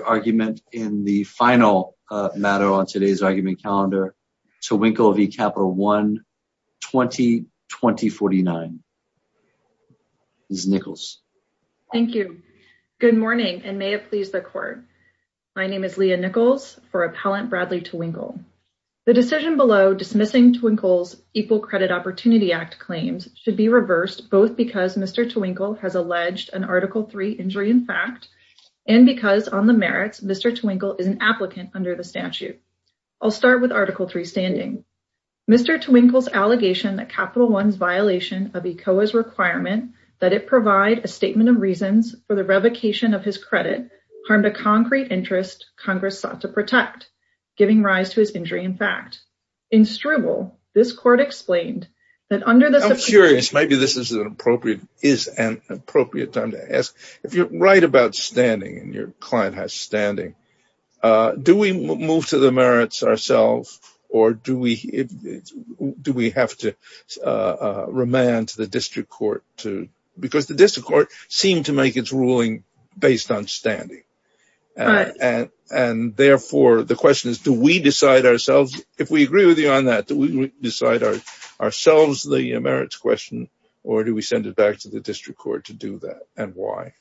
The final argument in the final matter on today's argument calendar, Tewinkle v. Capital One, 2020-49. Ms. Nichols. Thank you. Good morning and may it please the court. My name is Leah Nichols for Appellant Bradley Tewinkle. The decision below dismissing Tewinkle's Equal Credit Opportunity Act claims should be reversed both because Mr. Tewinkle has alleged an Article III injury in fact and because on the merits Mr. Tewinkle is an applicant under the statute. I'll start with Article III standing. Mr. Tewinkle's allegation that Capital One's violation of ECOA's requirement that it provide a statement of reasons for the revocation of his credit harmed a concrete interest Congress sought to protect, giving rise to his injury in fact. In Stribble, this court explained that under the... I'm curious, maybe this is an appropriate time to ask. If you're right about standing and your client has standing, do we move to the merits ourselves or do we have to remand to the district court to... The question is do we decide ourselves, if we agree with you on that, do we decide ourselves the merits question or do we send it back to the district court to do that and why?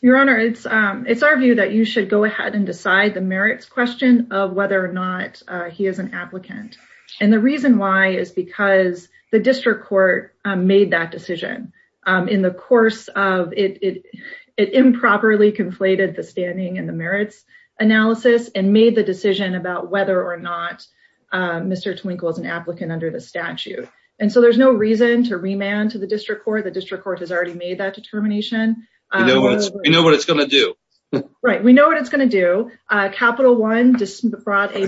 Your Honor, it's our view that you should go ahead and decide the merits question of whether or not he is an applicant. And the reason why is because the district court made that decision in the course of... It improperly conflated the standing and the merits analysis and made the decision about whether or not Mr. Tewinkle is an applicant under the statute. And so there's no reason to remand to the district court. The district court has already made that determination. We know what it's going to do. Right. We know what it's going to do. Capital One brought a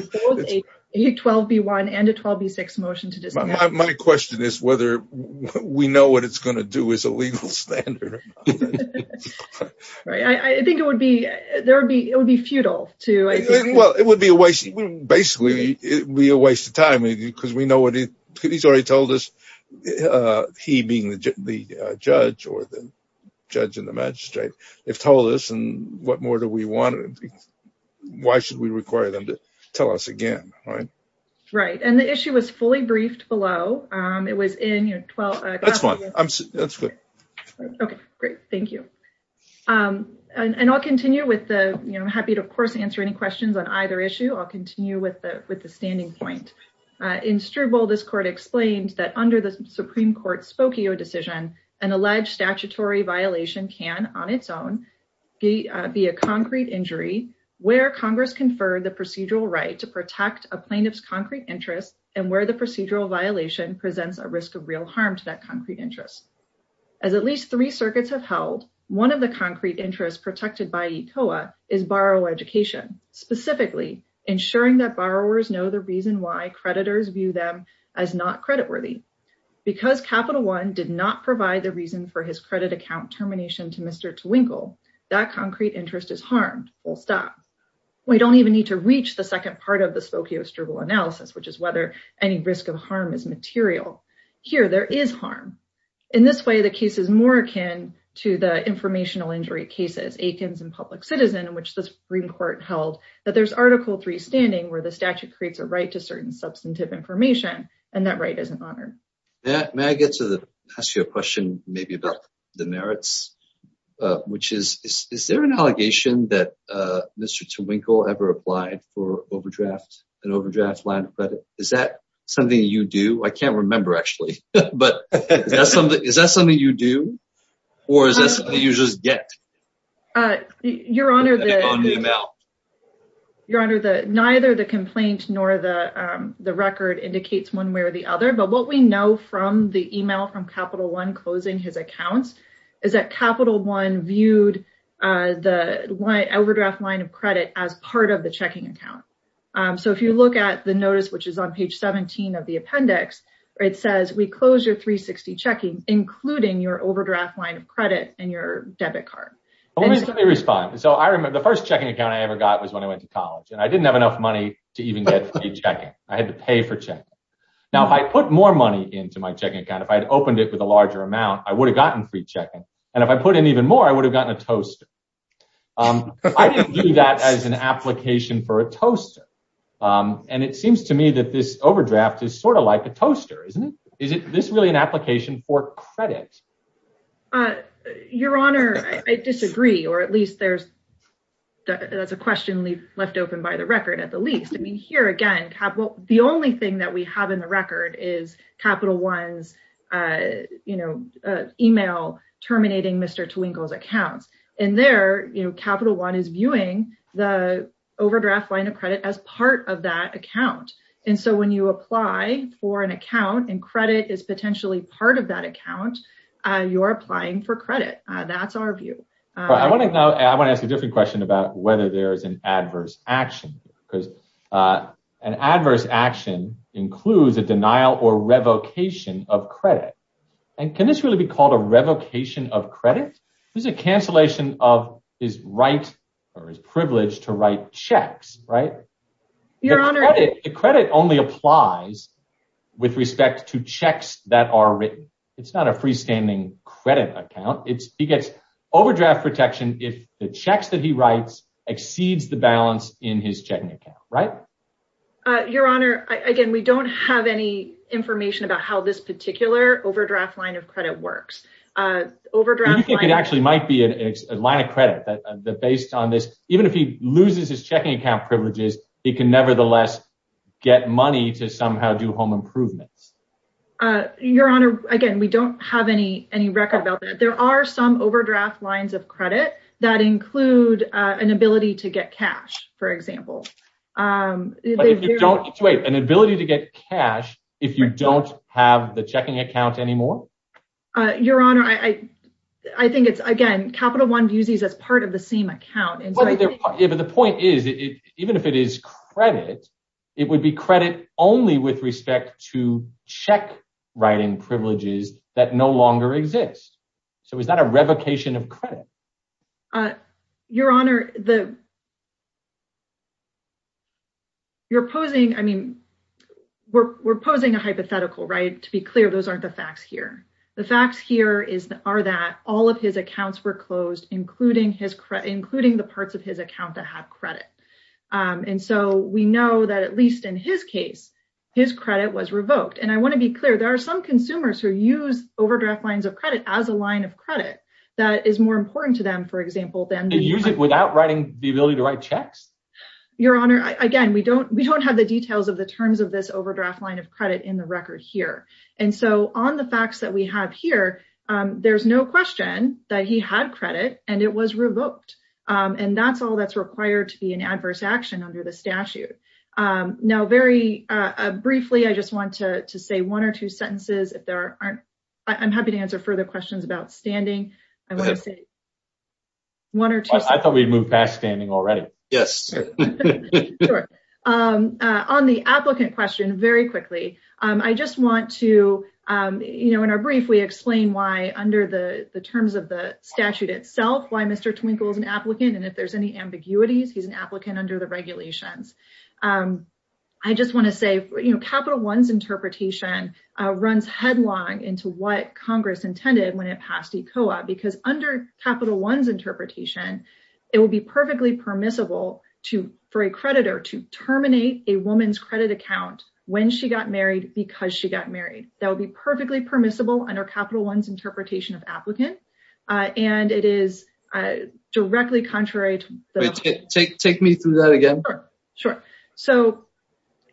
12B1 and a 12B6 motion to dismiss. My question is whether we know what it's going to do as a legal standard. I think it would be futile to... Well, it would be a waste. Basically, it would be a waste of time because we know what he's already told us. He being the judge or the judge and the magistrate, they've told us and what more do we want? Why should we require them to tell us again? Right? Right. And the issue was fully briefed below. It was in... That's fine. That's good. Okay, great. Thank you. And I'll continue with the... I'm happy to, of course, answer any questions on either issue. I'll continue with the standing point. In Struble, this court explained that under the Supreme Court's Spokio decision, an alleged statutory violation can, on its own, be a concrete injury where Congress conferred the procedural right to protect a plaintiff's concrete interest and where the procedural violation presents a risk of real harm to that concrete interest. As at least three circuits have held, one of the concrete interests protected by ECOA is borrower education, specifically ensuring that borrowers know the reason why creditors view them as not creditworthy. Because Capital One did not provide the reason for his credit account termination to Mr. Twinkle, that concrete interest is harmed, full stop. We don't even need to reach the second part of the Spokio-Struble analysis, which is whether any risk of harm is material. Here, there is harm. In this way, the case is more akin to the informational injury cases, Aikens and Public Citizen, in which the Supreme Court held that there's Article III standing where the statute creates a right to certain substantive information, and that right isn't honored. May I ask you a question about the merits? Is there an allegation that Mr. Twinkle ever applied for an overdraft line of credit? Is that something you do? I can't remember, actually. Is that something you do, or is that something you just get? Your Honor, neither the complaint nor the record indicates one way or the other, but what we know from the email from Capital One closing his accounts is that Capital One viewed the overdraft line of credit as part of the checking account. If you look at the notice, which is on page 17 of the appendix, it says, we close your 360 checking, including your overdraft line of credit and your debit card. Let me respond. The first checking account I ever got was when I went to college, and I didn't have enough money to even get free checking. I had to pay for checking. Now, if I put more money into my checking account, if I had opened it with a larger amount, I would have gotten free checking, and if I put in even more, I would have gotten a toaster. I didn't view that as an application for a toaster, and it seems to me that this overdraft is sort of like a toaster, isn't it? Is this really an application for credit? Your Honor, I disagree, or at least that's a question left open by the record at the least. I mean, here again, the only thing that we have in the record is Capital One's email terminating Mr. Twinkle's accounts. In there, Capital One is viewing the overdraft line of credit as part of that account, and so when you apply for an account and credit is potentially part of that account, you're applying for credit. That's our view. I want to ask a different question about whether there is an adverse action, because an adverse action includes a denial or revocation of credit, and can this really be called a revocation of credit? This is a cancellation of his right or his privilege to write checks, right? The credit only applies with respect to checks that are written. It's not a freestanding credit account. He gets overdraft protection if the checks that he writes exceeds the balance in his checking account, right? Your Honor, again, we don't have any information about how this particular overdraft line of credit works. It actually might be a line of credit that based on this, even if he loses his checking account privileges, he can nevertheless get money to somehow do home improvements. Your Honor, again, we don't have any record about that. There are some overdraft lines of credit that include an ability to get cash, for example. Wait, an ability to get cash if you don't have the checking account anymore? Your Honor, I think it's, again, Capital One views these as part of the same account. But the point is, even if it is credit, it would be credit only with respect to check-writing privileges that no longer exist. So is that a revocation of credit? Your Honor, we're posing a hypothetical, right? To be clear, those aren't the facts here. The facts here are that all of his accounts were closed, including the parts of his account that have credit. And so we know that, at least in his case, his credit was revoked. And I want to be clear, there are some consumers who use overdraft lines of credit as a line of credit that is more important to them, for example, than— They use it without the ability to write checks? Your Honor, again, we don't have the details of the terms of this overdraft line of credit in the record here. And so on the facts that we have here, there's no question that he had credit and it was revoked. And that's all that's required to be an adverse action under the statute. Now, very briefly, I just want to say one or two sentences. I'm happy to answer further questions about standing. I thought we'd moved past standing already. Yes. On the applicant question, very quickly, I just want to, you know, in our brief, we explain why under the terms of the statute itself, why Mr. Twinkle is an applicant. And if there's any ambiguities, he's an applicant under the regulations. I just want to say, you know, Capital One's interpretation runs headlong into what Congress intended when it passed ECOA, because under Capital One's interpretation, it would be perfectly permissible for a creditor to terminate a woman's credit account when she got married because she got married. That would be perfectly permissible under Capital One's interpretation of applicant. And it is directly contrary to— Take me through that again. Sure. So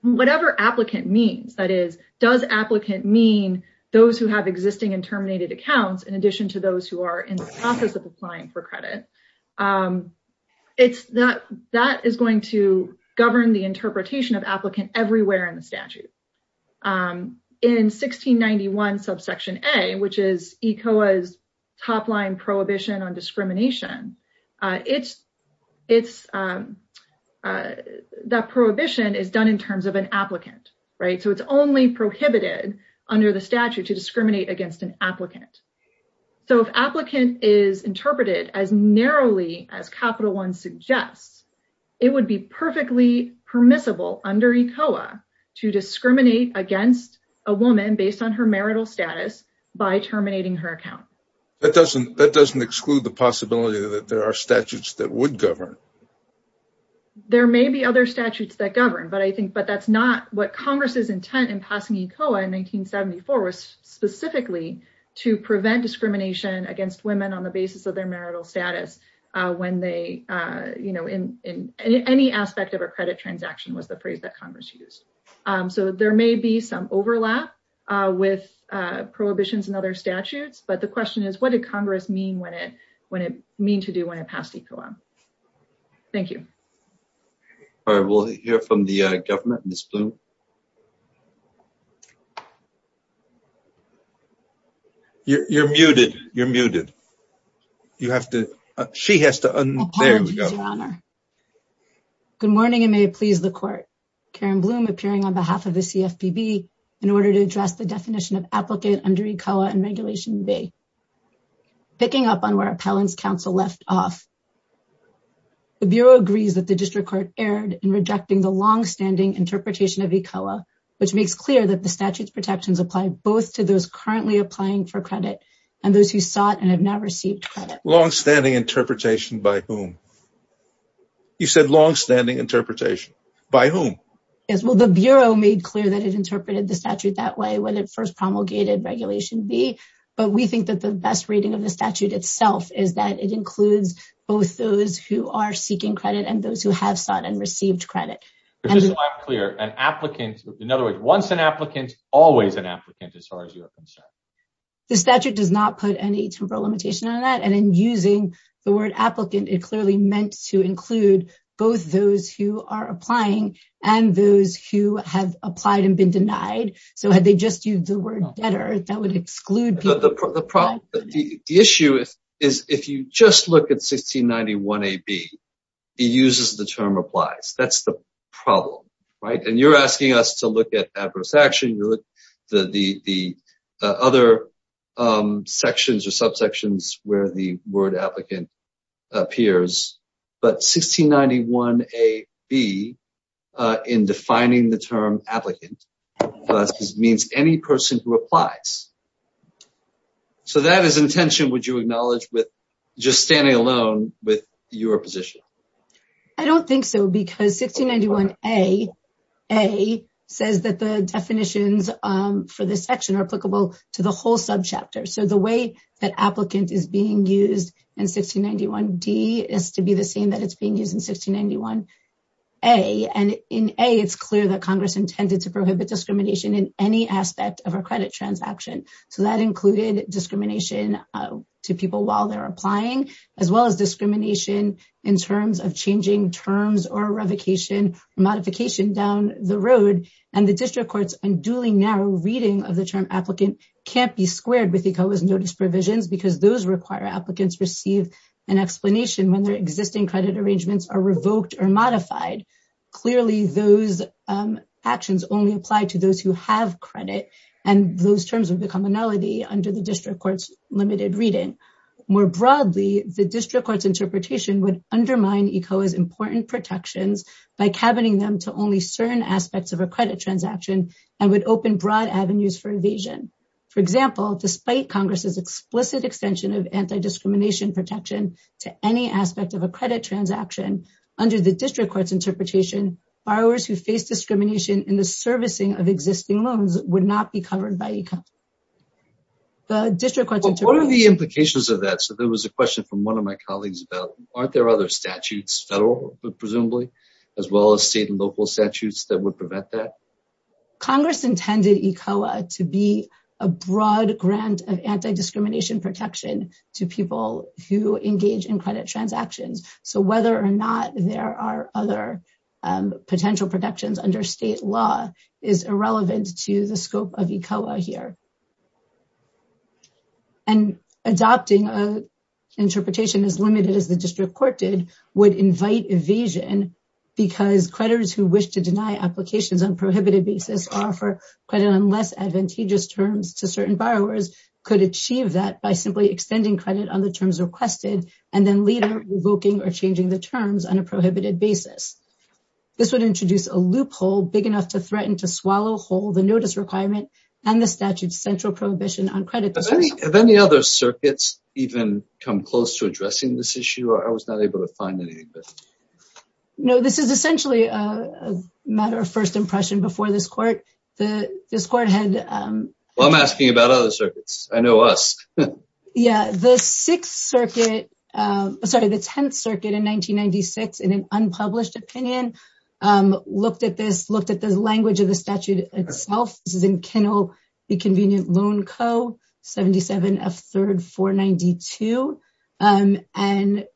whatever applicant means, that is, does applicant mean those who have existing and terminated accounts in addition to those who are in the process of applying for credit? That is going to govern the interpretation of applicant everywhere in the statute. In 1691 subsection A, which is ECOA's top line prohibition on discrimination, that prohibition is done in terms of an applicant, right? So it's only prohibited under the statute to discriminate against an applicant. So if applicant is interpreted as narrowly as Capital One suggests, it would be perfectly permissible under ECOA to discriminate against a woman based on her marital status by terminating her account. That doesn't exclude the possibility that there are statutes that would govern. There may be other statutes that govern, but I think, but that's not what Congress's intent in passing ECOA in 1974 was specifically to prevent discrimination against women on the basis of their marital status when they, you know, in any aspect of a credit transaction was the phrase that Congress used. So there may be some overlap with prohibitions and other statutes, but the question is, what did Congress mean when it, when it, mean to do when it passed ECOA? Thank you. All right, we'll hear from the government, Ms. Bloom. You're muted. You're muted. You have to, she has to unmute. Good morning and may it please the court. Karen Bloom appearing on behalf of the CFPB in order to address the definition of applicant under ECOA and Regulation B. Picking up on where Appellants Council left off. The Bureau agrees that the District Court erred in rejecting the longstanding interpretation of ECOA, which makes clear that the statute's protections apply both to those currently applying for credit and those who sought and have now received credit. Longstanding interpretation by whom? You said longstanding interpretation. By whom? Yes, well, the Bureau made clear that it interpreted the statute that way when it first promulgated Regulation B, but we think that the best reading of the statute itself is that it includes both those who are seeking credit and those who have sought and received credit. Just so I'm clear, an applicant, in other words, once an applicant, always an applicant, as far as you're concerned. The statute does not put any temporal limitation on that and in using the word applicant, it clearly meant to include both those who are applying and those who have applied and been denied. So had they just used the word debtor, that would exclude people. The issue is if you just look at 1691AB, it uses the term applies. That's the problem, right? And you're asking us to look at adverse action, the other sections or subsections where the word applicant appears. But 1691AB, in defining the term applicant, means any person who applies. So that is intention, would you acknowledge, with just standing alone with your position? I don't think so, because 1691A says that the definitions for this section are applicable to the whole subchapter. So the way that applicant is being used in 1691D is to be the same that it's being used in 1691A. And in A, it's clear that Congress intended to prohibit discrimination in any aspect of our credit transaction. So that included discrimination to people while they're applying, as well as discrimination in terms of changing terms or revocation, modification down the road. And the district court's unduly narrow reading of the term applicant can't be squared with ECOA's notice provisions because those require applicants receive an explanation when their existing credit arrangements are revoked or modified. Clearly, those actions only apply to those who have credit, and those terms would become a nullity under the district court's limited reading. More broadly, the district court's interpretation would undermine ECOA's important protections by cabining them to only certain aspects of a credit transaction and would open broad avenues for evasion. For example, despite Congress's explicit extension of anti-discrimination protection to any aspect of a credit transaction, under the district court's interpretation, borrowers who face discrimination in the servicing of existing loans would not be covered by ECOA. What are the implications of that? So there was a question from one of my colleagues about, aren't there other statutes, federal presumably, as well as state and local statutes that would prevent that? Congress intended ECOA to be a broad grant of anti-discrimination protection to people who engage in credit transactions. So whether or not there are other potential protections under state law is irrelevant to the scope of ECOA here. Adopting an interpretation as limited as the district court did would invite evasion because creditors who wish to deny applications on a prohibited basis or offer credit on less advantageous terms to certain borrowers could achieve that by simply extending credit on the terms requested and then later revoking or changing the terms on a prohibited basis. This would introduce a loophole big enough to threaten to swallow whole the notice requirement and the statute's central prohibition on credit. Have any other circuits even come close to addressing this issue? I was not able to find any. No, this is essentially a matter of first impression before this court. This court had... Well, I'm asking about other circuits. I know us. Yeah, the Sixth Circuit, sorry, the Tenth Circuit in 1996, in an unpublished opinion, looked at this, looked at the language of the statute itself. This is in Kinnell v. Convenient Loan Co., 77 F. 3rd 492, and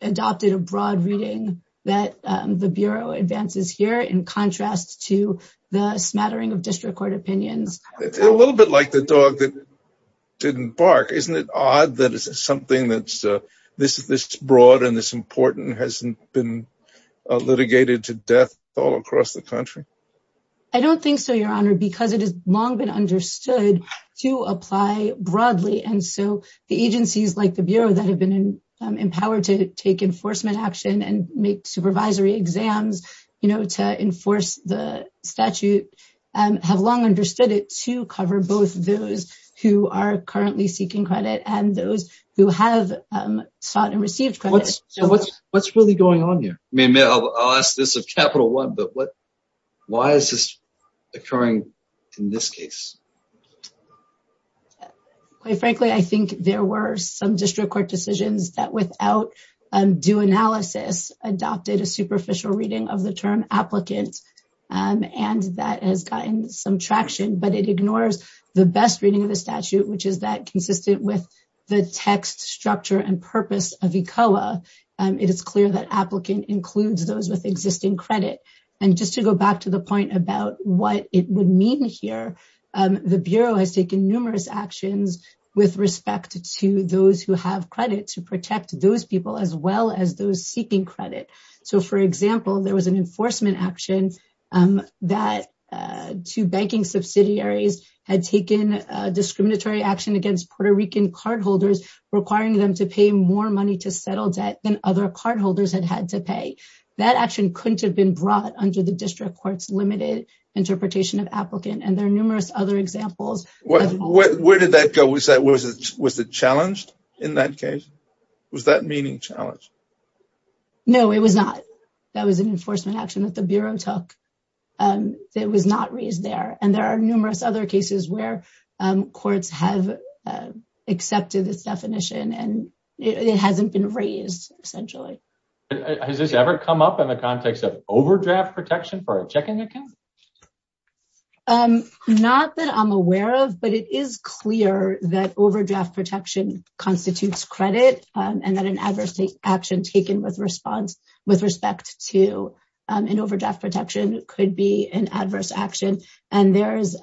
adopted a broad reading that the Bureau advances here in contrast to the smattering of district court opinions. A little bit like the dog that didn't bark. Isn't it odd that something that's this broad and this important hasn't been litigated to death all across the country? I don't think so, Your Honor, because it has long been understood to apply broadly. And so the agencies like the Bureau that have been empowered to take enforcement action and make supervisory exams to enforce the statute have long understood it to cover both those who are currently seeking credit and those who have sought and received credit. What's really going on here? I'll ask this of Capital One, but why is this occurring in this case? Quite frankly, I think there were some district court decisions that without due analysis adopted a superficial reading of the term applicant, and that has gotten some traction, but it ignores the best reading of the statute, which is that consistent with the text structure and purpose of ECOA. It is clear that applicant includes those with existing credit. And just to go back to the point about what it would mean here, the Bureau has taken numerous actions with respect to those who have credit to protect those people as well as those seeking credit. So, for example, there was an enforcement action that two banking subsidiaries had taken discriminatory action against Puerto Rican cardholders, requiring them to pay more money to settle debt than other cardholders had had to pay. That action couldn't have been brought under the district court's limited interpretation of applicant, and there are numerous other examples. Where did that go? Was it challenged in that case? Was that meaning challenged? No, it was not. That was an enforcement action that the Bureau took. It was not raised there. And there are numerous other cases where courts have accepted this definition, and it hasn't been raised, essentially. Has this ever come up in the context of overdraft protection for a checking account? Not that I'm aware of, but it is clear that overdraft protection constitutes credit and that an adverse action taken with respect to an overdraft protection could be an adverse action. And there is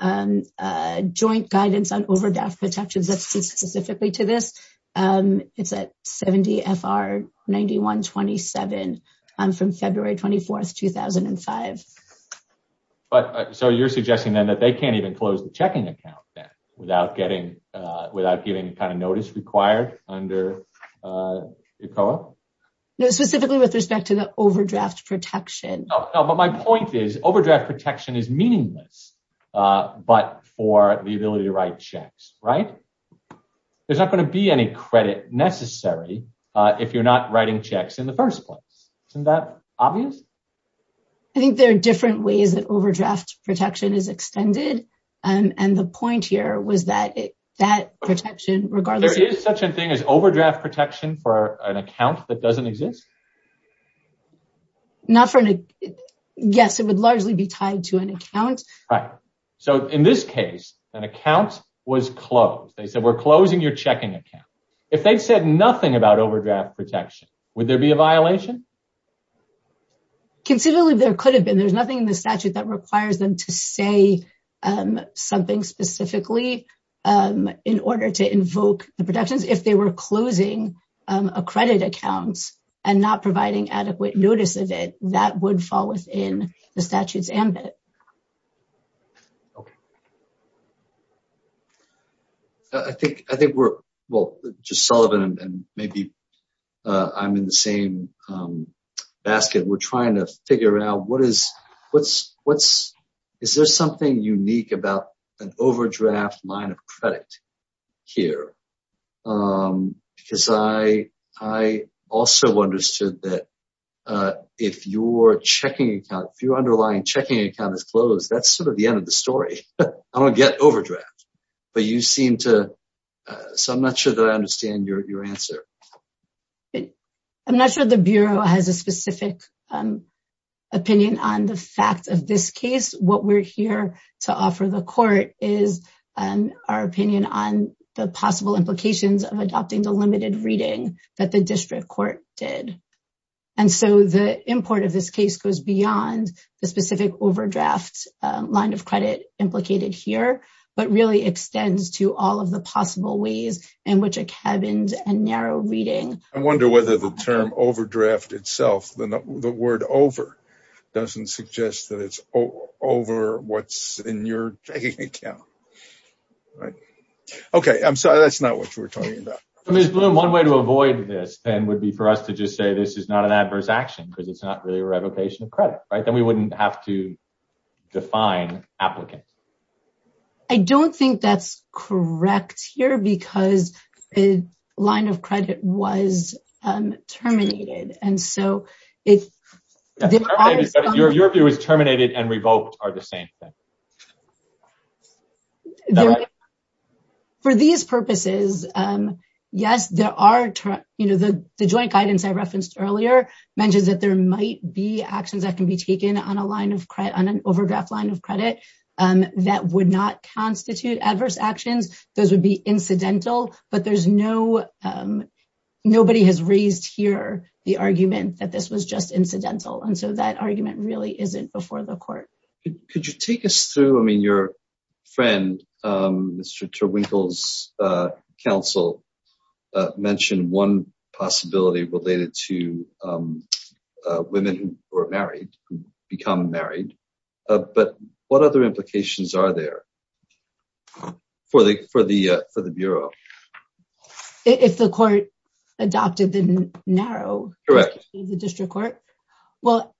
joint guidance on overdraft protections that speaks specifically to this. It's at 70 FR 9127 from February 24, 2005. So you're suggesting then that they can't even close the checking account then without getting any kind of notice required under ECOA? No, specifically with respect to the overdraft protection. But my point is overdraft protection is meaningless, but for the ability to write checks, right? There's not going to be any credit necessary if you're not writing checks in the first place. Isn't that obvious? I think there are different ways that overdraft protection is extended. And the point here was that that protection, regardless... There is such a thing as overdraft protection for an account that doesn't exist? Yes, it would largely be tied to an account. Right. So in this case, an account was closed. They said, we're closing your checking account. If they said nothing about overdraft protection, would there be a violation? Considerably, there could have been. There's nothing in the statute that requires them to say something specifically in order to invoke the protections. If they were closing a credit account and not providing adequate notice of it, that would fall within the statute's ambit. Okay. I think we're... Well, just Sullivan and maybe I'm in the same basket. We're trying to figure out, is there something unique about an overdraft line of credit here? Because I also understood that if your underlying checking account is closed, that's sort of the end of the story. I don't get overdraft, but you seem to... So I'm not sure that I understand your answer. I'm not sure the Bureau has a specific opinion on the fact of this case. What we're here to offer the court is our opinion on the possible implications of adopting the limited reading that the district court did. And so the import of this case goes beyond the specific overdraft line of credit implicated here, but really extends to all of the possible ways in which a cabins and narrow reading... Over what's in your checking account. Okay. I'm sorry. That's not what we're talking about. Ms. Bloom, one way to avoid this then would be for us to just say this is not an adverse action because it's not really a revocation of credit, right? Then we wouldn't have to define applicant. I don't think that's correct here because the line of credit was terminated. Your view is terminated and revoked are the same thing. For these purposes, yes, there are... The joint guidance I referenced earlier mentions that there might be actions that can be taken on an overdraft line of credit that would not constitute adverse actions. Those would be incidental, but there's no... Nobody has raised here the argument that this was just incidental. And so that argument really isn't before the court. Could you take us through... I mean, your friend, Mr. Terwinkel's counsel mentioned one possibility related to women who are married, who become married. But what other implications are there for the Bureau? If the court adopted the narrow... Correct. Well,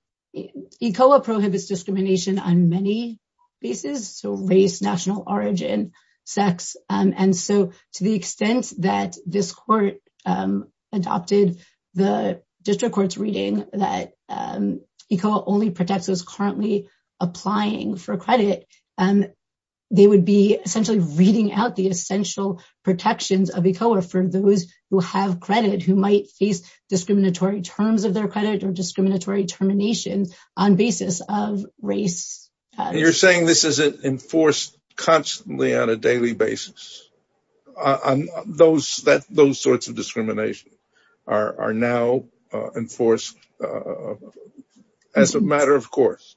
ECOA prohibits discrimination on many bases, so race, national origin, sex. And so to the extent that this court adopted the district court's reading that ECOA only protects those currently applying for credit, they would be essentially reading out the essential protections of ECOA for those who have credit who might face discriminatory terms of their credit or discriminatory termination on basis of race. You're saying this isn't enforced constantly on a daily basis? Those sorts of discrimination are now enforced as a matter of course.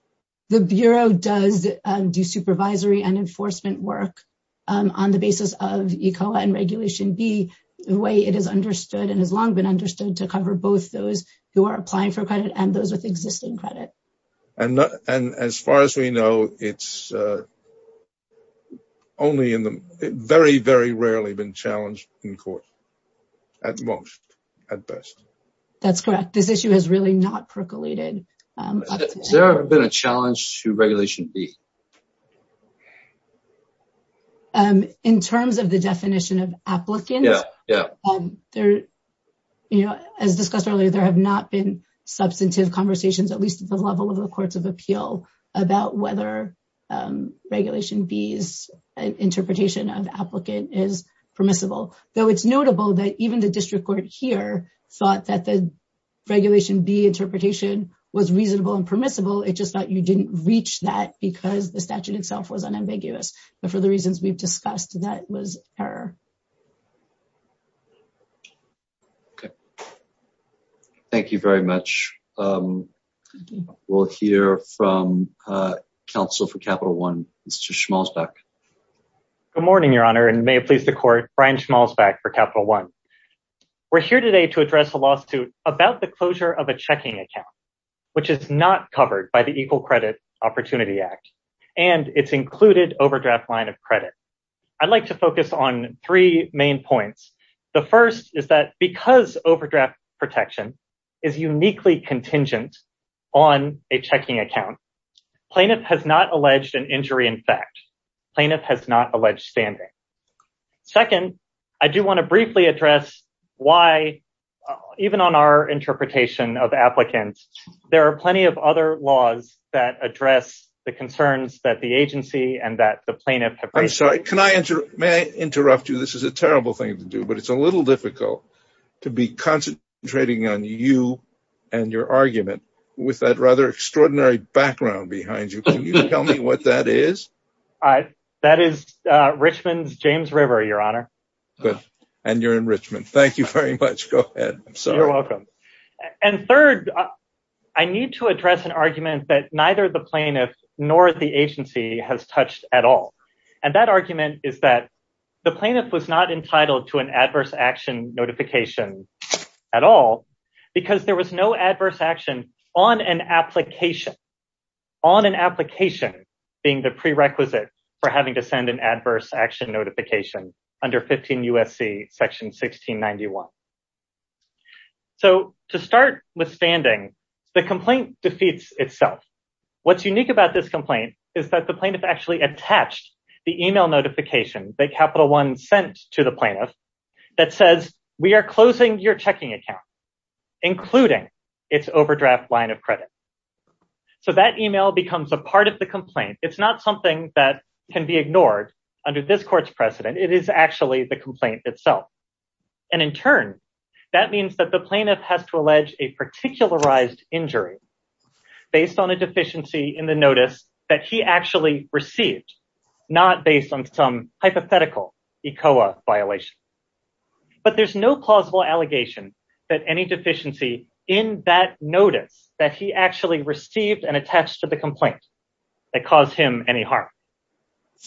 The Bureau does do supervisory and enforcement work on the basis of ECOA and Regulation B, the way it is understood and has long been understood to cover both those who are applying for credit and those with existing credit. And as far as we know, it's only in the... Very, very rarely been challenged in court, at most, at best. That's correct. This issue has really not percolated. Has there ever been a challenge to Regulation B? In terms of the definition of applicant, as discussed earlier, there have not been substantive conversations, at least at the level of the Courts of Appeal, about whether Regulation B's interpretation of applicant is permissible. Though it's notable that even the District Court here thought that the Regulation B interpretation was reasonable and permissible, it just thought you didn't reach that because the statute itself was unambiguous. But for the reasons we've discussed, that was error. Thank you very much. We'll hear from counsel for Capital One, Mr. Schmalzbeck. Good morning, Your Honor, and may it please the Court, Brian Schmalzbeck for Capital One. We're here today to address a lawsuit about the closure of a checking account, which is not covered by the Equal Credit Opportunity Act, and its included overdraft line of credit. I'd like to focus on three main points. The first is that because overdraft protection is uniquely contingent on a checking account, plaintiff has not alleged an injury in fact. Plaintiff has not alleged standing. Second, I do want to briefly address why, even on our interpretation of applicants, there are plenty of other laws that address the concerns that the agency and that the plaintiff have raised. May I interrupt you? This is a terrible thing to do, but it's a little difficult to be concentrating on you and your argument with that rather extraordinary background behind you. Can you tell me what that is? That is Richmond's James River, Your Honor. And you're in Richmond. Thank you very much. Go ahead. You're welcome. And third, I need to address an argument that neither the plaintiff nor the agency has touched at all. And that argument is that the plaintiff was not entitled to an adverse action notification at all because there was no adverse action on an application. On an application being the prerequisite for having to send an adverse action notification under 15 U.S.C. section 1691. So to start withstanding, the complaint defeats itself. What's unique about this complaint is that the plaintiff actually attached the email notification that Capital One sent to the plaintiff that says, we are closing your checking account, including its overdraft line of credit. So that email becomes a part of the complaint. It's not something that can be ignored under this court's precedent. It is actually the complaint itself. And in turn, that means that the plaintiff has to allege a particularized injury based on a deficiency in the notice that he actually received, not based on some hypothetical ECOA violation. But there's no plausible allegation that any deficiency in that notice that he actually received and attached to the complaint that caused him any harm.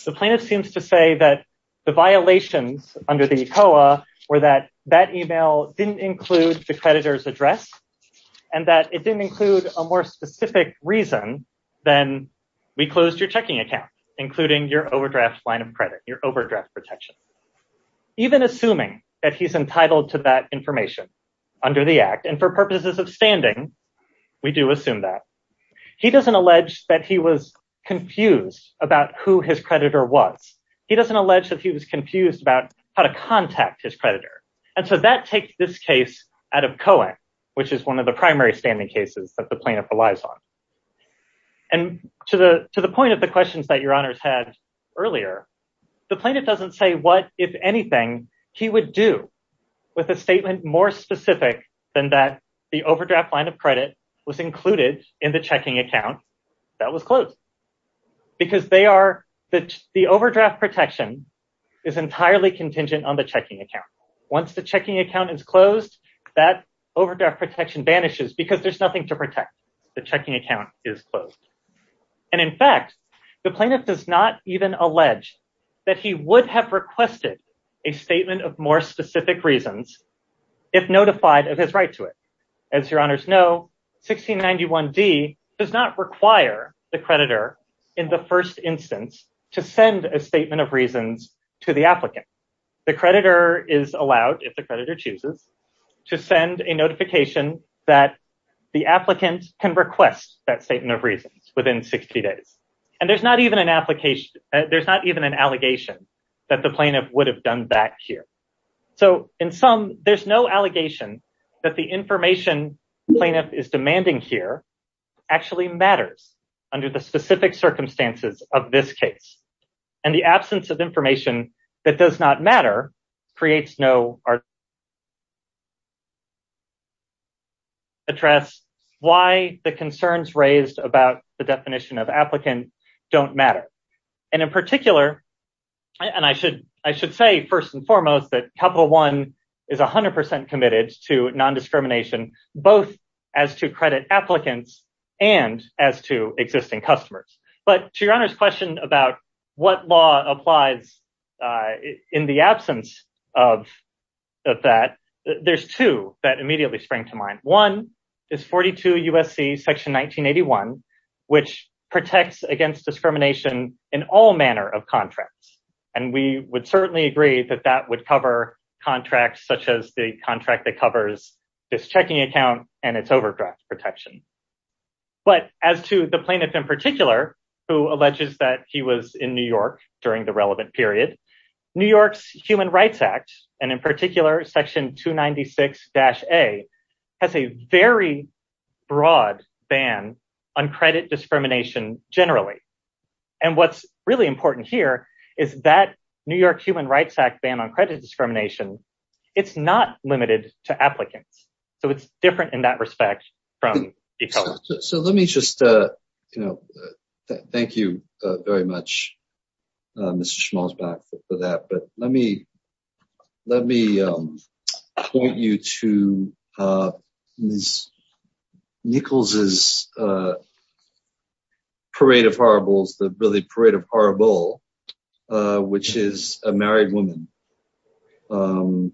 The plaintiff seems to say that the violations under the ECOA were that that email didn't include the creditor's address. And that it didn't include a more specific reason than we closed your checking account, including your overdraft line of credit, your overdraft protection. Even assuming that he's entitled to that information under the act and for purposes of standing, we do assume that. He doesn't allege that he was confused about who his creditor was. He doesn't allege that he was confused about how to contact his creditor. And so that takes this case out of Cohen, which is one of the primary standing cases that the plaintiff relies on. And to the point of the questions that your honors had earlier, the plaintiff doesn't say what, if anything, he would do with a statement more specific than that the overdraft line of credit was included in the checking account that was closed. Because they are the overdraft protection is entirely contingent on the checking account. Once the checking account is closed, that overdraft protection vanishes because there's nothing to protect. The checking account is closed. And in fact, the plaintiff does not even allege that he would have requested a statement of more specific reasons if notified of his right to it. As your honors know, 1691 D does not require the creditor in the first instance to send a statement of reasons to the applicant. The creditor is allowed, if the creditor chooses, to send a notification that the applicant can request that statement of reasons within 60 days. And there's not even an allegation that the plaintiff would have done that here. So in sum, there's no allegation that the information the plaintiff is demanding here actually matters under the specific circumstances of this case. And the absence of information that does not matter creates no argument to address why the concerns raised about the definition of applicant don't matter. And in particular, and I should say, first and foremost, that Capital One is 100% committed to non-discrimination, both as to credit applicants and as to existing customers. But to your honors question about what law applies in the absence of that, there's two that immediately spring to mind. One is 42 U.S.C. section 1981, which protects against discrimination in all manner of contracts. And we would certainly agree that that would cover contracts such as the contract that covers this checking account and its overdraft protection. But as to the plaintiff in particular, who alleges that he was in New York during the relevant period, New York's Human Rights Act, and in particular section 296-A, has a very broad ban on credit discrimination generally. And what's really important here is that New York Human Rights Act ban on credit discrimination, it's not limited to applicants. So it's different in that respect. So let me just, you know, thank you very much, Mr. Schmalzbach, for that. But let me let me point you to Ms. Nichols' Parade of Horribles, the really Parade of Horrible, which is a married woman who,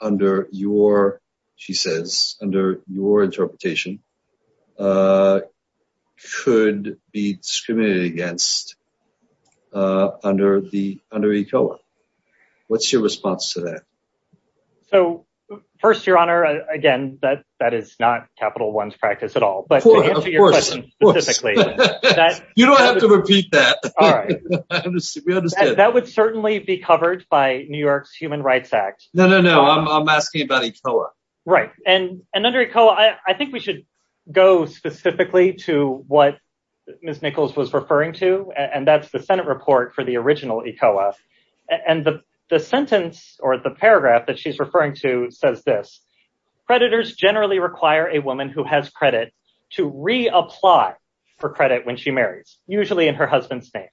under your, she says, under your interpretation, could be discriminated against under the under ECOA. What's your response to that? So, first, Your Honor, again, that that is not Capital One's practice at all. But you don't have to repeat that. We understand that would certainly be covered by New York's Human Rights Act. No, no, no. I'm asking about ECOA. Right. And under ECOA, I think we should go specifically to what Ms. Nichols was referring to. And that's the Senate report for the original ECOA. And the sentence or the paragraph that she's referring to says this. Creditors generally require a woman who has credit to reapply for credit when she marries, usually in her husband's name.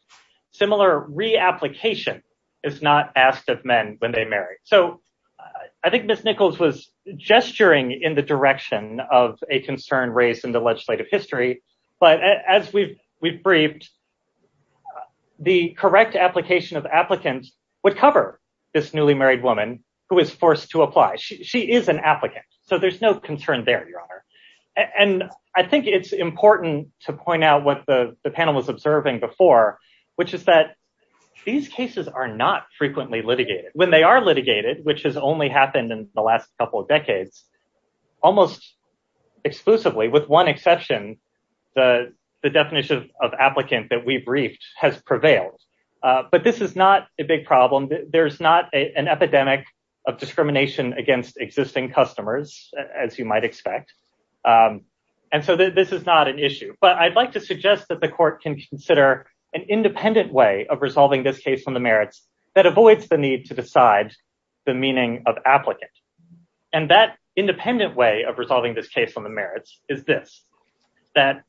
Similar reapplication is not asked of men when they marry. So I think Ms. Nichols was gesturing in the direction of a concern raised in the legislative history. But as we've we've briefed, the correct application of applicants would cover this newly married woman who is forced to apply. She is an applicant. So there's no concern there, Your Honor. And I think it's important to point out what the panel was observing before, which is that these cases are not frequently litigated. When they are litigated, which has only happened in the last couple of decades, almost exclusively with one exception, the definition of applicant that we've briefed has prevailed. But this is not a big problem. There's not an epidemic of discrimination against existing customers, as you might expect. But I'd like to suggest that the court can consider an independent way of resolving this case on the merits that avoids the need to decide the meaning of applicant. And that independent way of resolving this case on the merits is this, that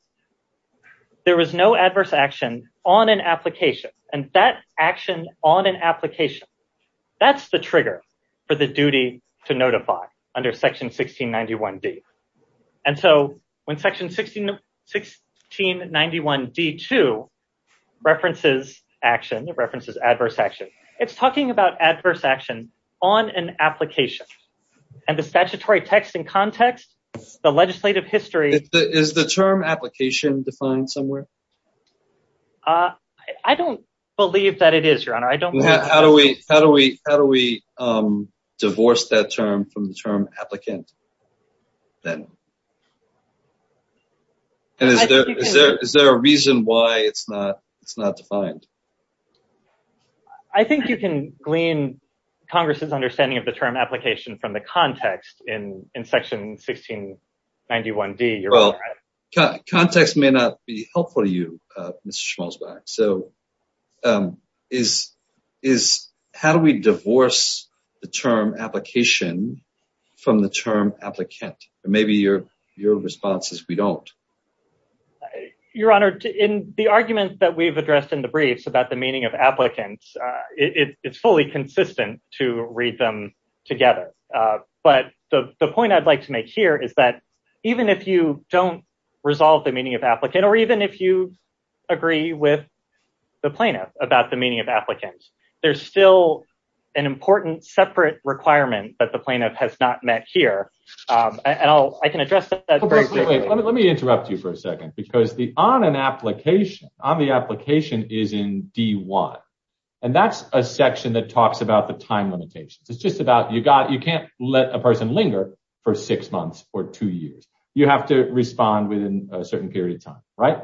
there was no adverse action on an application. And that action on an application, that's the trigger for the duty to notify under Section 1691D. And so when Section 1691D.2 references action, it references adverse action, it's talking about adverse action on an application. And the statutory text and context, the legislative history... Is the term application defined somewhere? I don't believe that it is, Your Honor. How do we divorce that term from the term applicant? And is there a reason why it's not defined? I think you can glean Congress's understanding of the term application from the context in Section 1691D. Well, context may not be helpful to you, Mr. Schmalzbach. How do we divorce the term application from the term applicant? Maybe your response is we don't. Your Honor, in the arguments that we've addressed in the briefs about the meaning of applicants, it's fully consistent to read them together. But the point I'd like to make here is that even if you don't resolve the meaning of applicant, or even if you agree with the plaintiff about the meaning of applicants, there's still an important separate requirement that the plaintiff has not met here. And I can address that very quickly. Let me interrupt you for a second, because the on an application, on the application is in D.1. And that's a section that talks about the time limitations. It's just about you got you can't let a person linger for six months or two years. You have to respond within a certain period of time, right?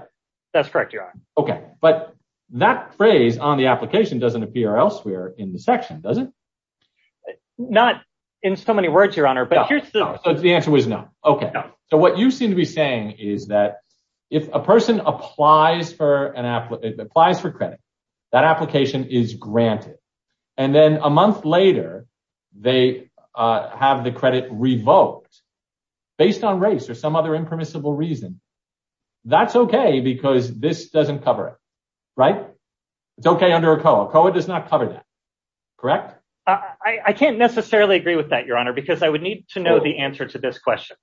That's correct, Your Honor. OK, but that phrase on the application doesn't appear elsewhere in the section, does it? Not in so many words, Your Honor. But the answer was no. OK, so what you seem to be saying is that if a person applies for an app, applies for credit, that application is granted. And then a month later, they have the credit revoked based on race or some other impermissible reason. That's OK, because this doesn't cover it, right? It's OK under ACOA. ACOA does not cover that, correct? I can't necessarily agree with that, Your Honor, because I would need to know the answer to this question,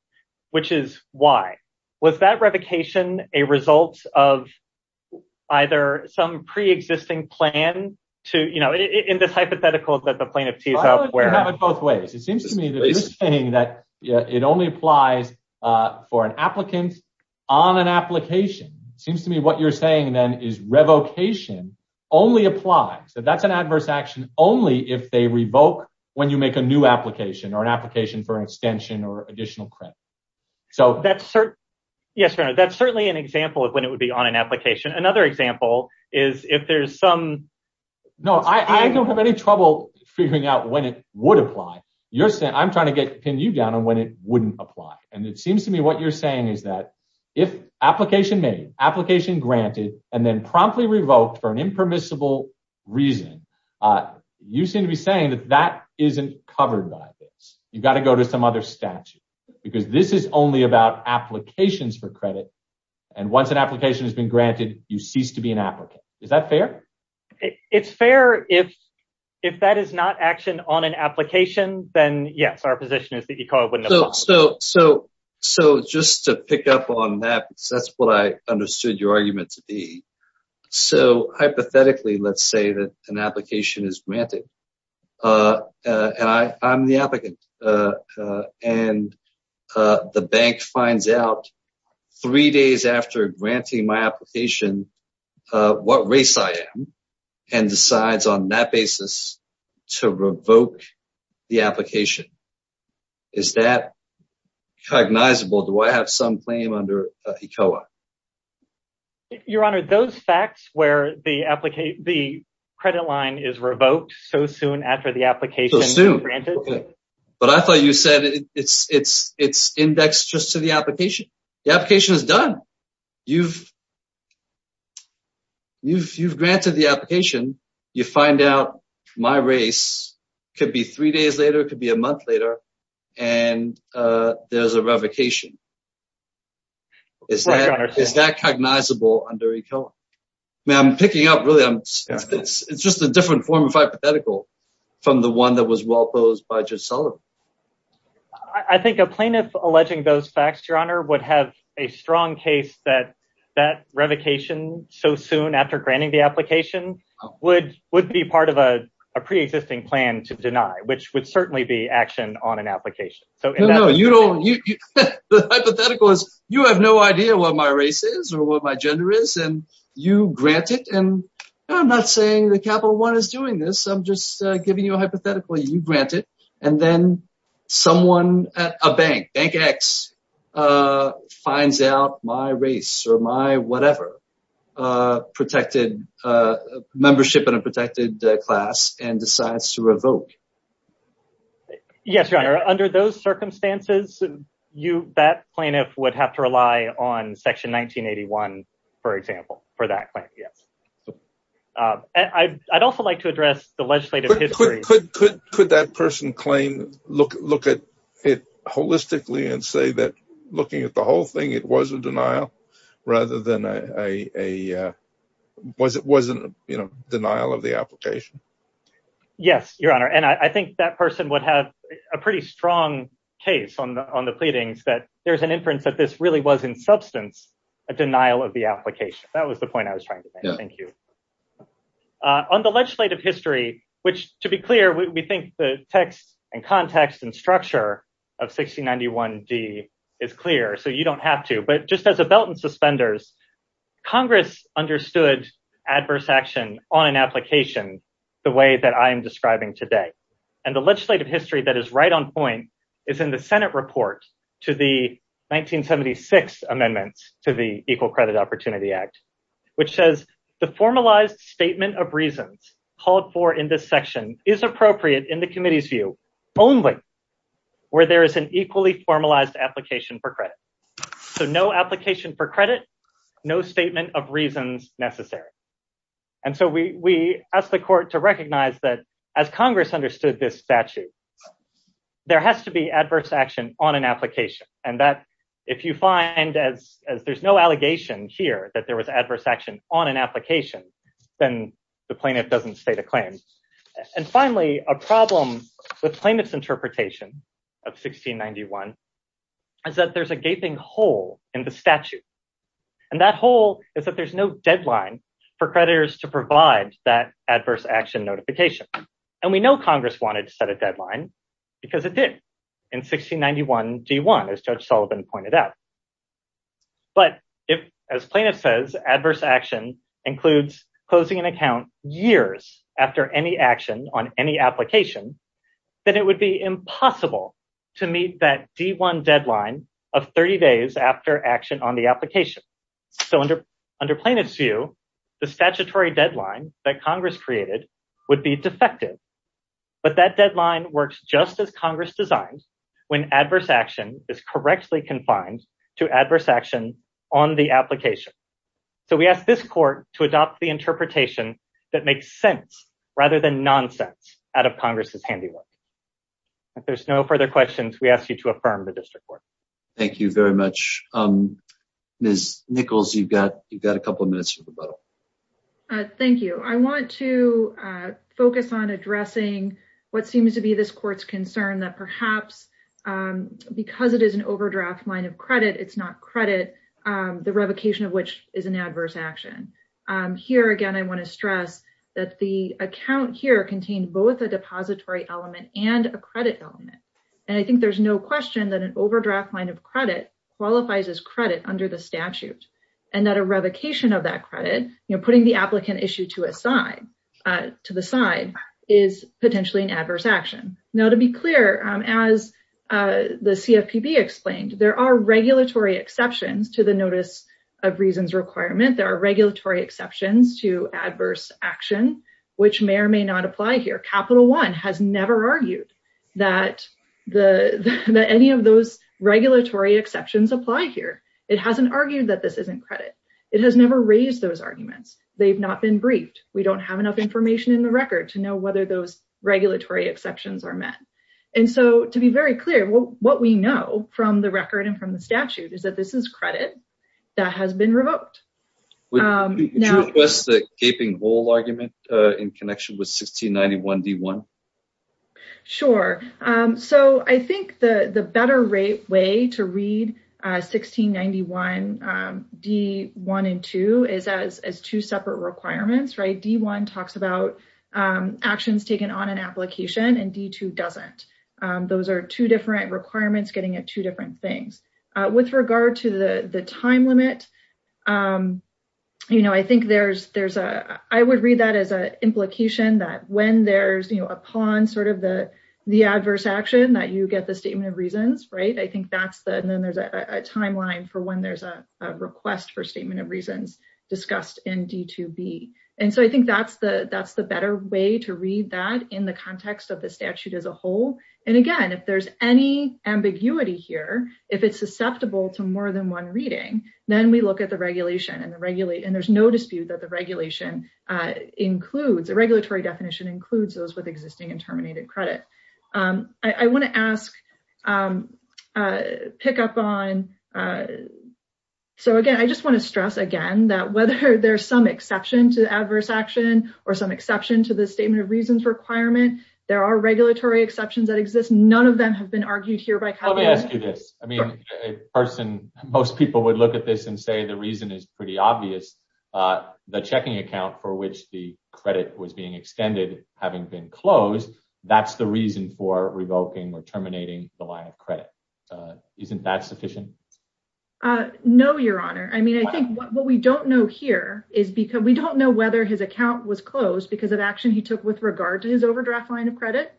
which is why. Was that revocation a result of either some pre-existing plan to, you know, in this hypothetical that the plaintiff tees up? Well, you can have it both ways. It seems to me that you're saying that it only applies for an applicant on an application. It seems to me what you're saying then is revocation only applies. That's an adverse action only if they revoke when you make a new application or an application for an extension or additional credit. Yes, Your Honor, that's certainly an example of when it would be on an application. Another example is if there's some... No, I don't have any trouble figuring out when it would apply. I'm trying to pin you down on when it wouldn't apply. And it seems to me what you're saying is that if application made, application granted, and then promptly revoked for an impermissible reason, you seem to be saying that that isn't covered by this. You've got to go to some other statute because this is only about applications for credit. And once an application has been granted, you cease to be an applicant. Is that fair? It's fair. If that is not action on an application, then yes, our position is that ECOA wouldn't apply. So just to pick up on that, because that's what I understood your argument to be. So hypothetically, let's say that an application is granted and I'm the applicant and the bank finds out three days after granting my application what race I am and decides on that basis to revoke the application. Is that cognizable? Do I have some claim under ECOA? Your Honor, those facts where the credit line is revoked so soon after the application is granted. But I thought you said it's indexed just to the application. The application is done. You've granted the application. You find out my race could be three days later, could be a month later, and there's a revocation. Is that cognizable under ECOA? Now I'm picking up, really, it's just a different form of hypothetical from the one that was well posed by Judge Sullivan. I think a plaintiff alleging those facts, Your Honor, would have a strong case that that revocation so soon after granting the application would be part of a pre-existing plan to deny, which would certainly be action on an application. The hypothetical is you have no idea what my race is or what my gender is and you grant it. And I'm not saying that Capital One is doing this. I'm just giving you a hypothetical. You grant it. And then someone at a bank, Bank X, finds out my race or my whatever protected membership in a protected class and decides to revoke. Yes, Your Honor. Under those circumstances, that plaintiff would have to rely on Section 1981, for example, for that claim. Yes. I'd also like to address the legislative history. Could that person claim, look at it holistically and say that looking at the whole thing, it was a denial rather than a denial of the application? Yes, Your Honor. And I think that person would have a pretty strong case on the pleadings that there's an inference that this really was in substance a denial of the application. That was the point I was trying to make. Thank you. On the legislative history, which, to be clear, we think the text and context and structure of 1691 D is clear, so you don't have to. But just as a belt and suspenders, Congress understood adverse action on an application the way that I am describing today. And the legislative history that is right on point is in the Senate report to the 1976 amendments to the Equal Credit Opportunity Act, which says the formalized statement of reasons called for in this section is appropriate in the committee's view only where there is an equally formalized application for credit. So no application for credit, no statement of reasons necessary. And so we asked the court to recognize that as Congress understood this statute, there has to be adverse action on an application and that if you find as there's no allegation here that there was adverse action on an application, then the plaintiff doesn't state a claim. And finally, a problem with plaintiff's interpretation of 1691 is that there's a gaping hole in the statute. And that hole is that there's no deadline for creditors to provide that adverse action notification. And we know Congress wanted to set a deadline because it did in 1691 D1, as Judge Sullivan pointed out. But if, as plaintiff says, adverse action includes closing an account years after any action on any application, then it would be impossible to meet that D1 deadline of 30 days after action on the application. So under plaintiff's view, the statutory deadline that Congress created would be defective. But that deadline works just as Congress designed when adverse action is correctly confined to adverse action on the application. So we ask this court to adopt the interpretation that makes sense rather than nonsense out of Congress's handiwork. If there's no further questions, we ask you to affirm the district court. Thank you very much. Ms. Nichols, you've got a couple of minutes for rebuttal. Thank you. I want to focus on addressing what seems to be this court's concern that perhaps because it is an overdraft line of credit, it's not credit, the revocation of which is an adverse action. Here again, I want to stress that the account here contained both a depository element and a credit element. And I think there's no question that an overdraft line of credit qualifies as credit under the statute. And that a revocation of that credit, putting the applicant issue to the side, is potentially an adverse action. Now, to be clear, as the CFPB explained, there are regulatory exceptions to the notice of reasons requirement. There are regulatory exceptions to adverse action, which may or may not apply here. Capital One has never argued that any of those regulatory exceptions apply here. It hasn't argued that this isn't credit. It has never raised those arguments. They've not been briefed. We don't have enough information in the record to know whether those regulatory exceptions are met. And so to be very clear, what we know from the record and from the statute is that this is credit that has been revoked. Would you request the gaping hole argument in connection with 1691D1? Sure. So I think the better way to read 1691D1 and 2 is as two separate requirements, right? D1 talks about actions taken on an application and D2 doesn't. Those are two different requirements getting at two different things. With regard to the time limit, you know, I think there's a, I would read that as an implication that when there's, you know, upon sort of the adverse action that you get the statement of reasons, right? I think that's the, and then there's a timeline for when there's a request for statement of reasons discussed in D2B. And so I think that's the better way to read that in the context of the statute as a whole. And again, if there's any ambiguity here, if it's susceptible to more than one reading, then we look at the regulation and there's no dispute that the regulation includes, the regulatory definition includes those with existing and terminated credit. I want to ask, pick up on, so again, I just want to stress again that whether there's some exception to adverse action or some exception to the statement of reasons requirement, there are regulatory exceptions that exist. None of them have been argued here by. Let me ask you this person. Most people would look at this and say the reason is pretty obvious. The checking account for which the credit was being extended, having been closed. That's the reason for revoking or terminating the line of credit. Isn't that sufficient? No, Your Honor. I mean, I think what we don't know here is because we don't know whether his account was closed because of action he took with regard to his overdraft. Line of credit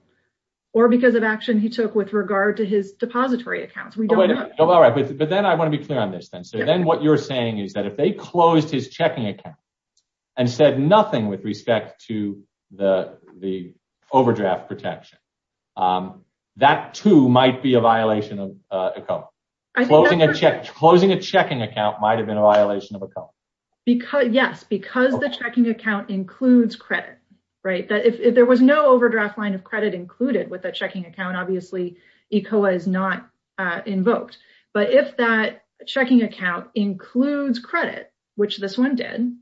or because of action he took with regard to his depository accounts. We don't know. All right. But then I want to be clear on this then. So then what you're saying is that if they closed his checking account and said nothing with respect to the overdraft protection, that, too, might be a violation of closing a check. Closing a checking account might have been a violation of a code because. Yes, because the checking account includes credit. Right. That if there was no overdraft line of credit included with the checking account, obviously ECOA is not invoked. But if that checking account includes credit, which this one did,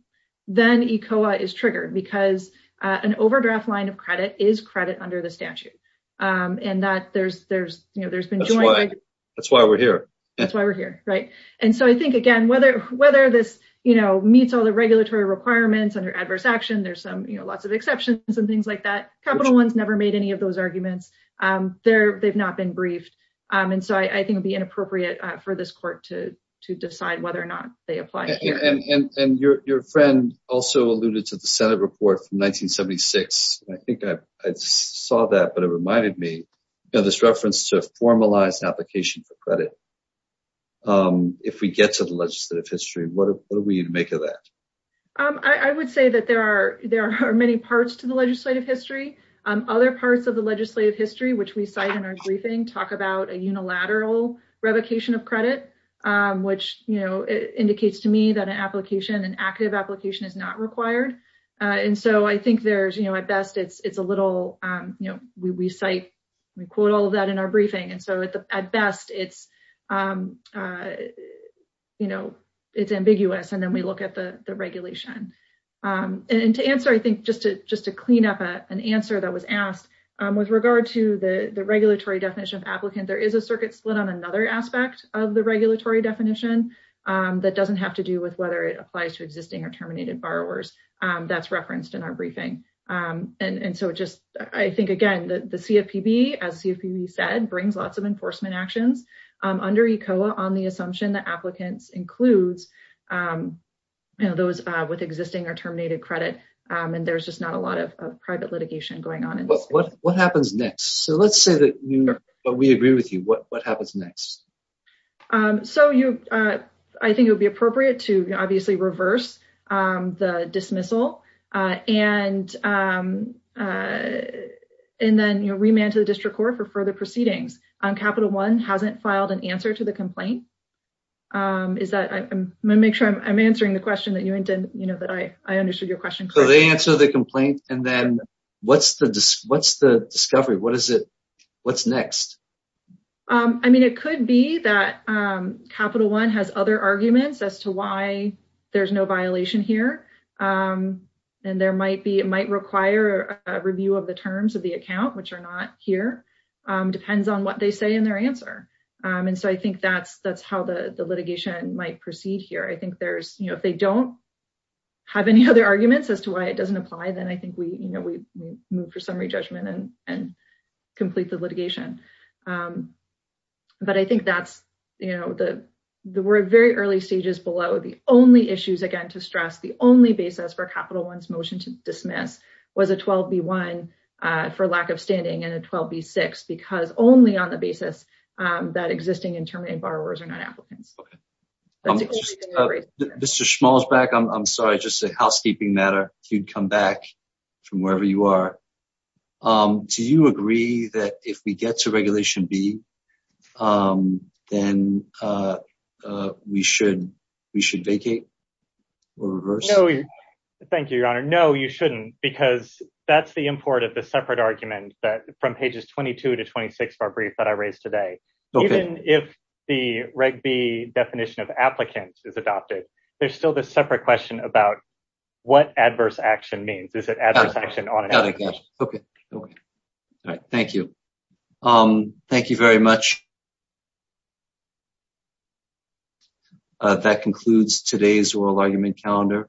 then ECOA is triggered because an overdraft line of credit is credit under the statute and that there's there's you know, there's been. That's why we're here. That's why we're here. Right. And so I think, again, whether whether this, you know, meets all the regulatory requirements under adverse action, there's some lots of exceptions and things like that. Capital One's never made any of those arguments there. They've not been briefed. And so I think it'd be inappropriate for this court to to decide whether or not they apply. And your friend also alluded to the Senate report from 1976. I think I saw that, but it reminded me of this reference to formalized application for credit. If we get to the legislative history, what are we to make of that? I would say that there are there are many parts to the legislative history. Other parts of the legislative history, which we cite in our briefing, talk about a unilateral revocation of credit, which indicates to me that an application, an active application is not required. And so I think there's, you know, at best it's it's a little, you know, we cite we quote all of that in our briefing. And so at best it's, you know, it's ambiguous. And then we look at the regulation and to answer, I think, just to just to clean up an answer that was asked with regard to the regulatory definition of applicant. There is a circuit split on another aspect of the regulatory definition that doesn't have to do with whether it applies to existing or terminated borrowers. That's referenced in our briefing. And so just I think, again, the CFPB, as CFPB said, brings lots of enforcement actions under ECOA on the assumption that applicants includes those with existing or terminated credit. And there's just not a lot of private litigation going on. What happens next? So let's say that we agree with you. What happens next? So you I think it would be appropriate to obviously reverse the dismissal and and then remand to the district court for further proceedings on Capital One hasn't filed an answer to the complaint. Is that I make sure I'm answering the question that you intend that I understood your question. So they answer the complaint and then what's the what's the discovery? What is it? What's next? I mean, it could be that Capital One has other arguments as to why there's no violation here. And there might be it might require a review of the terms of the account, which are not here, depends on what they say in their answer. And so I think that's that's how the litigation might proceed here. I think there's you know, if they don't have any other arguments as to why it doesn't apply, then I think we, you know, we move for summary judgment and and complete the litigation. But I think that's, you know, the we're very early stages below the only issues again to stress the only basis for Capital One's motion to dismiss was a 12B1 for lack of standing and a 12B6 because only on the basis that existing and terminated borrowers are not applicants. Mr. Schmalzbeck, I'm sorry, just a housekeeping matter. You'd come back from wherever you are. Do you agree that if we get to Regulation B, then we should we should vacate or reverse? Thank you, Your Honor. No, you shouldn't, because that's the import of the separate argument that from pages 22 to 26 of our brief that I raised today. Even if the Reg B definition of applicant is adopted, there's still this separate question about what adverse action means. Is it adverse action on an application? Okay. Thank you. Um, thank you very much. That concludes today's oral argument calendar.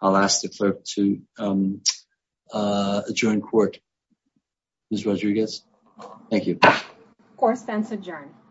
I'll ask the clerk to adjourn court. Ms. Rodriguez. Thank you. Court stands adjourned.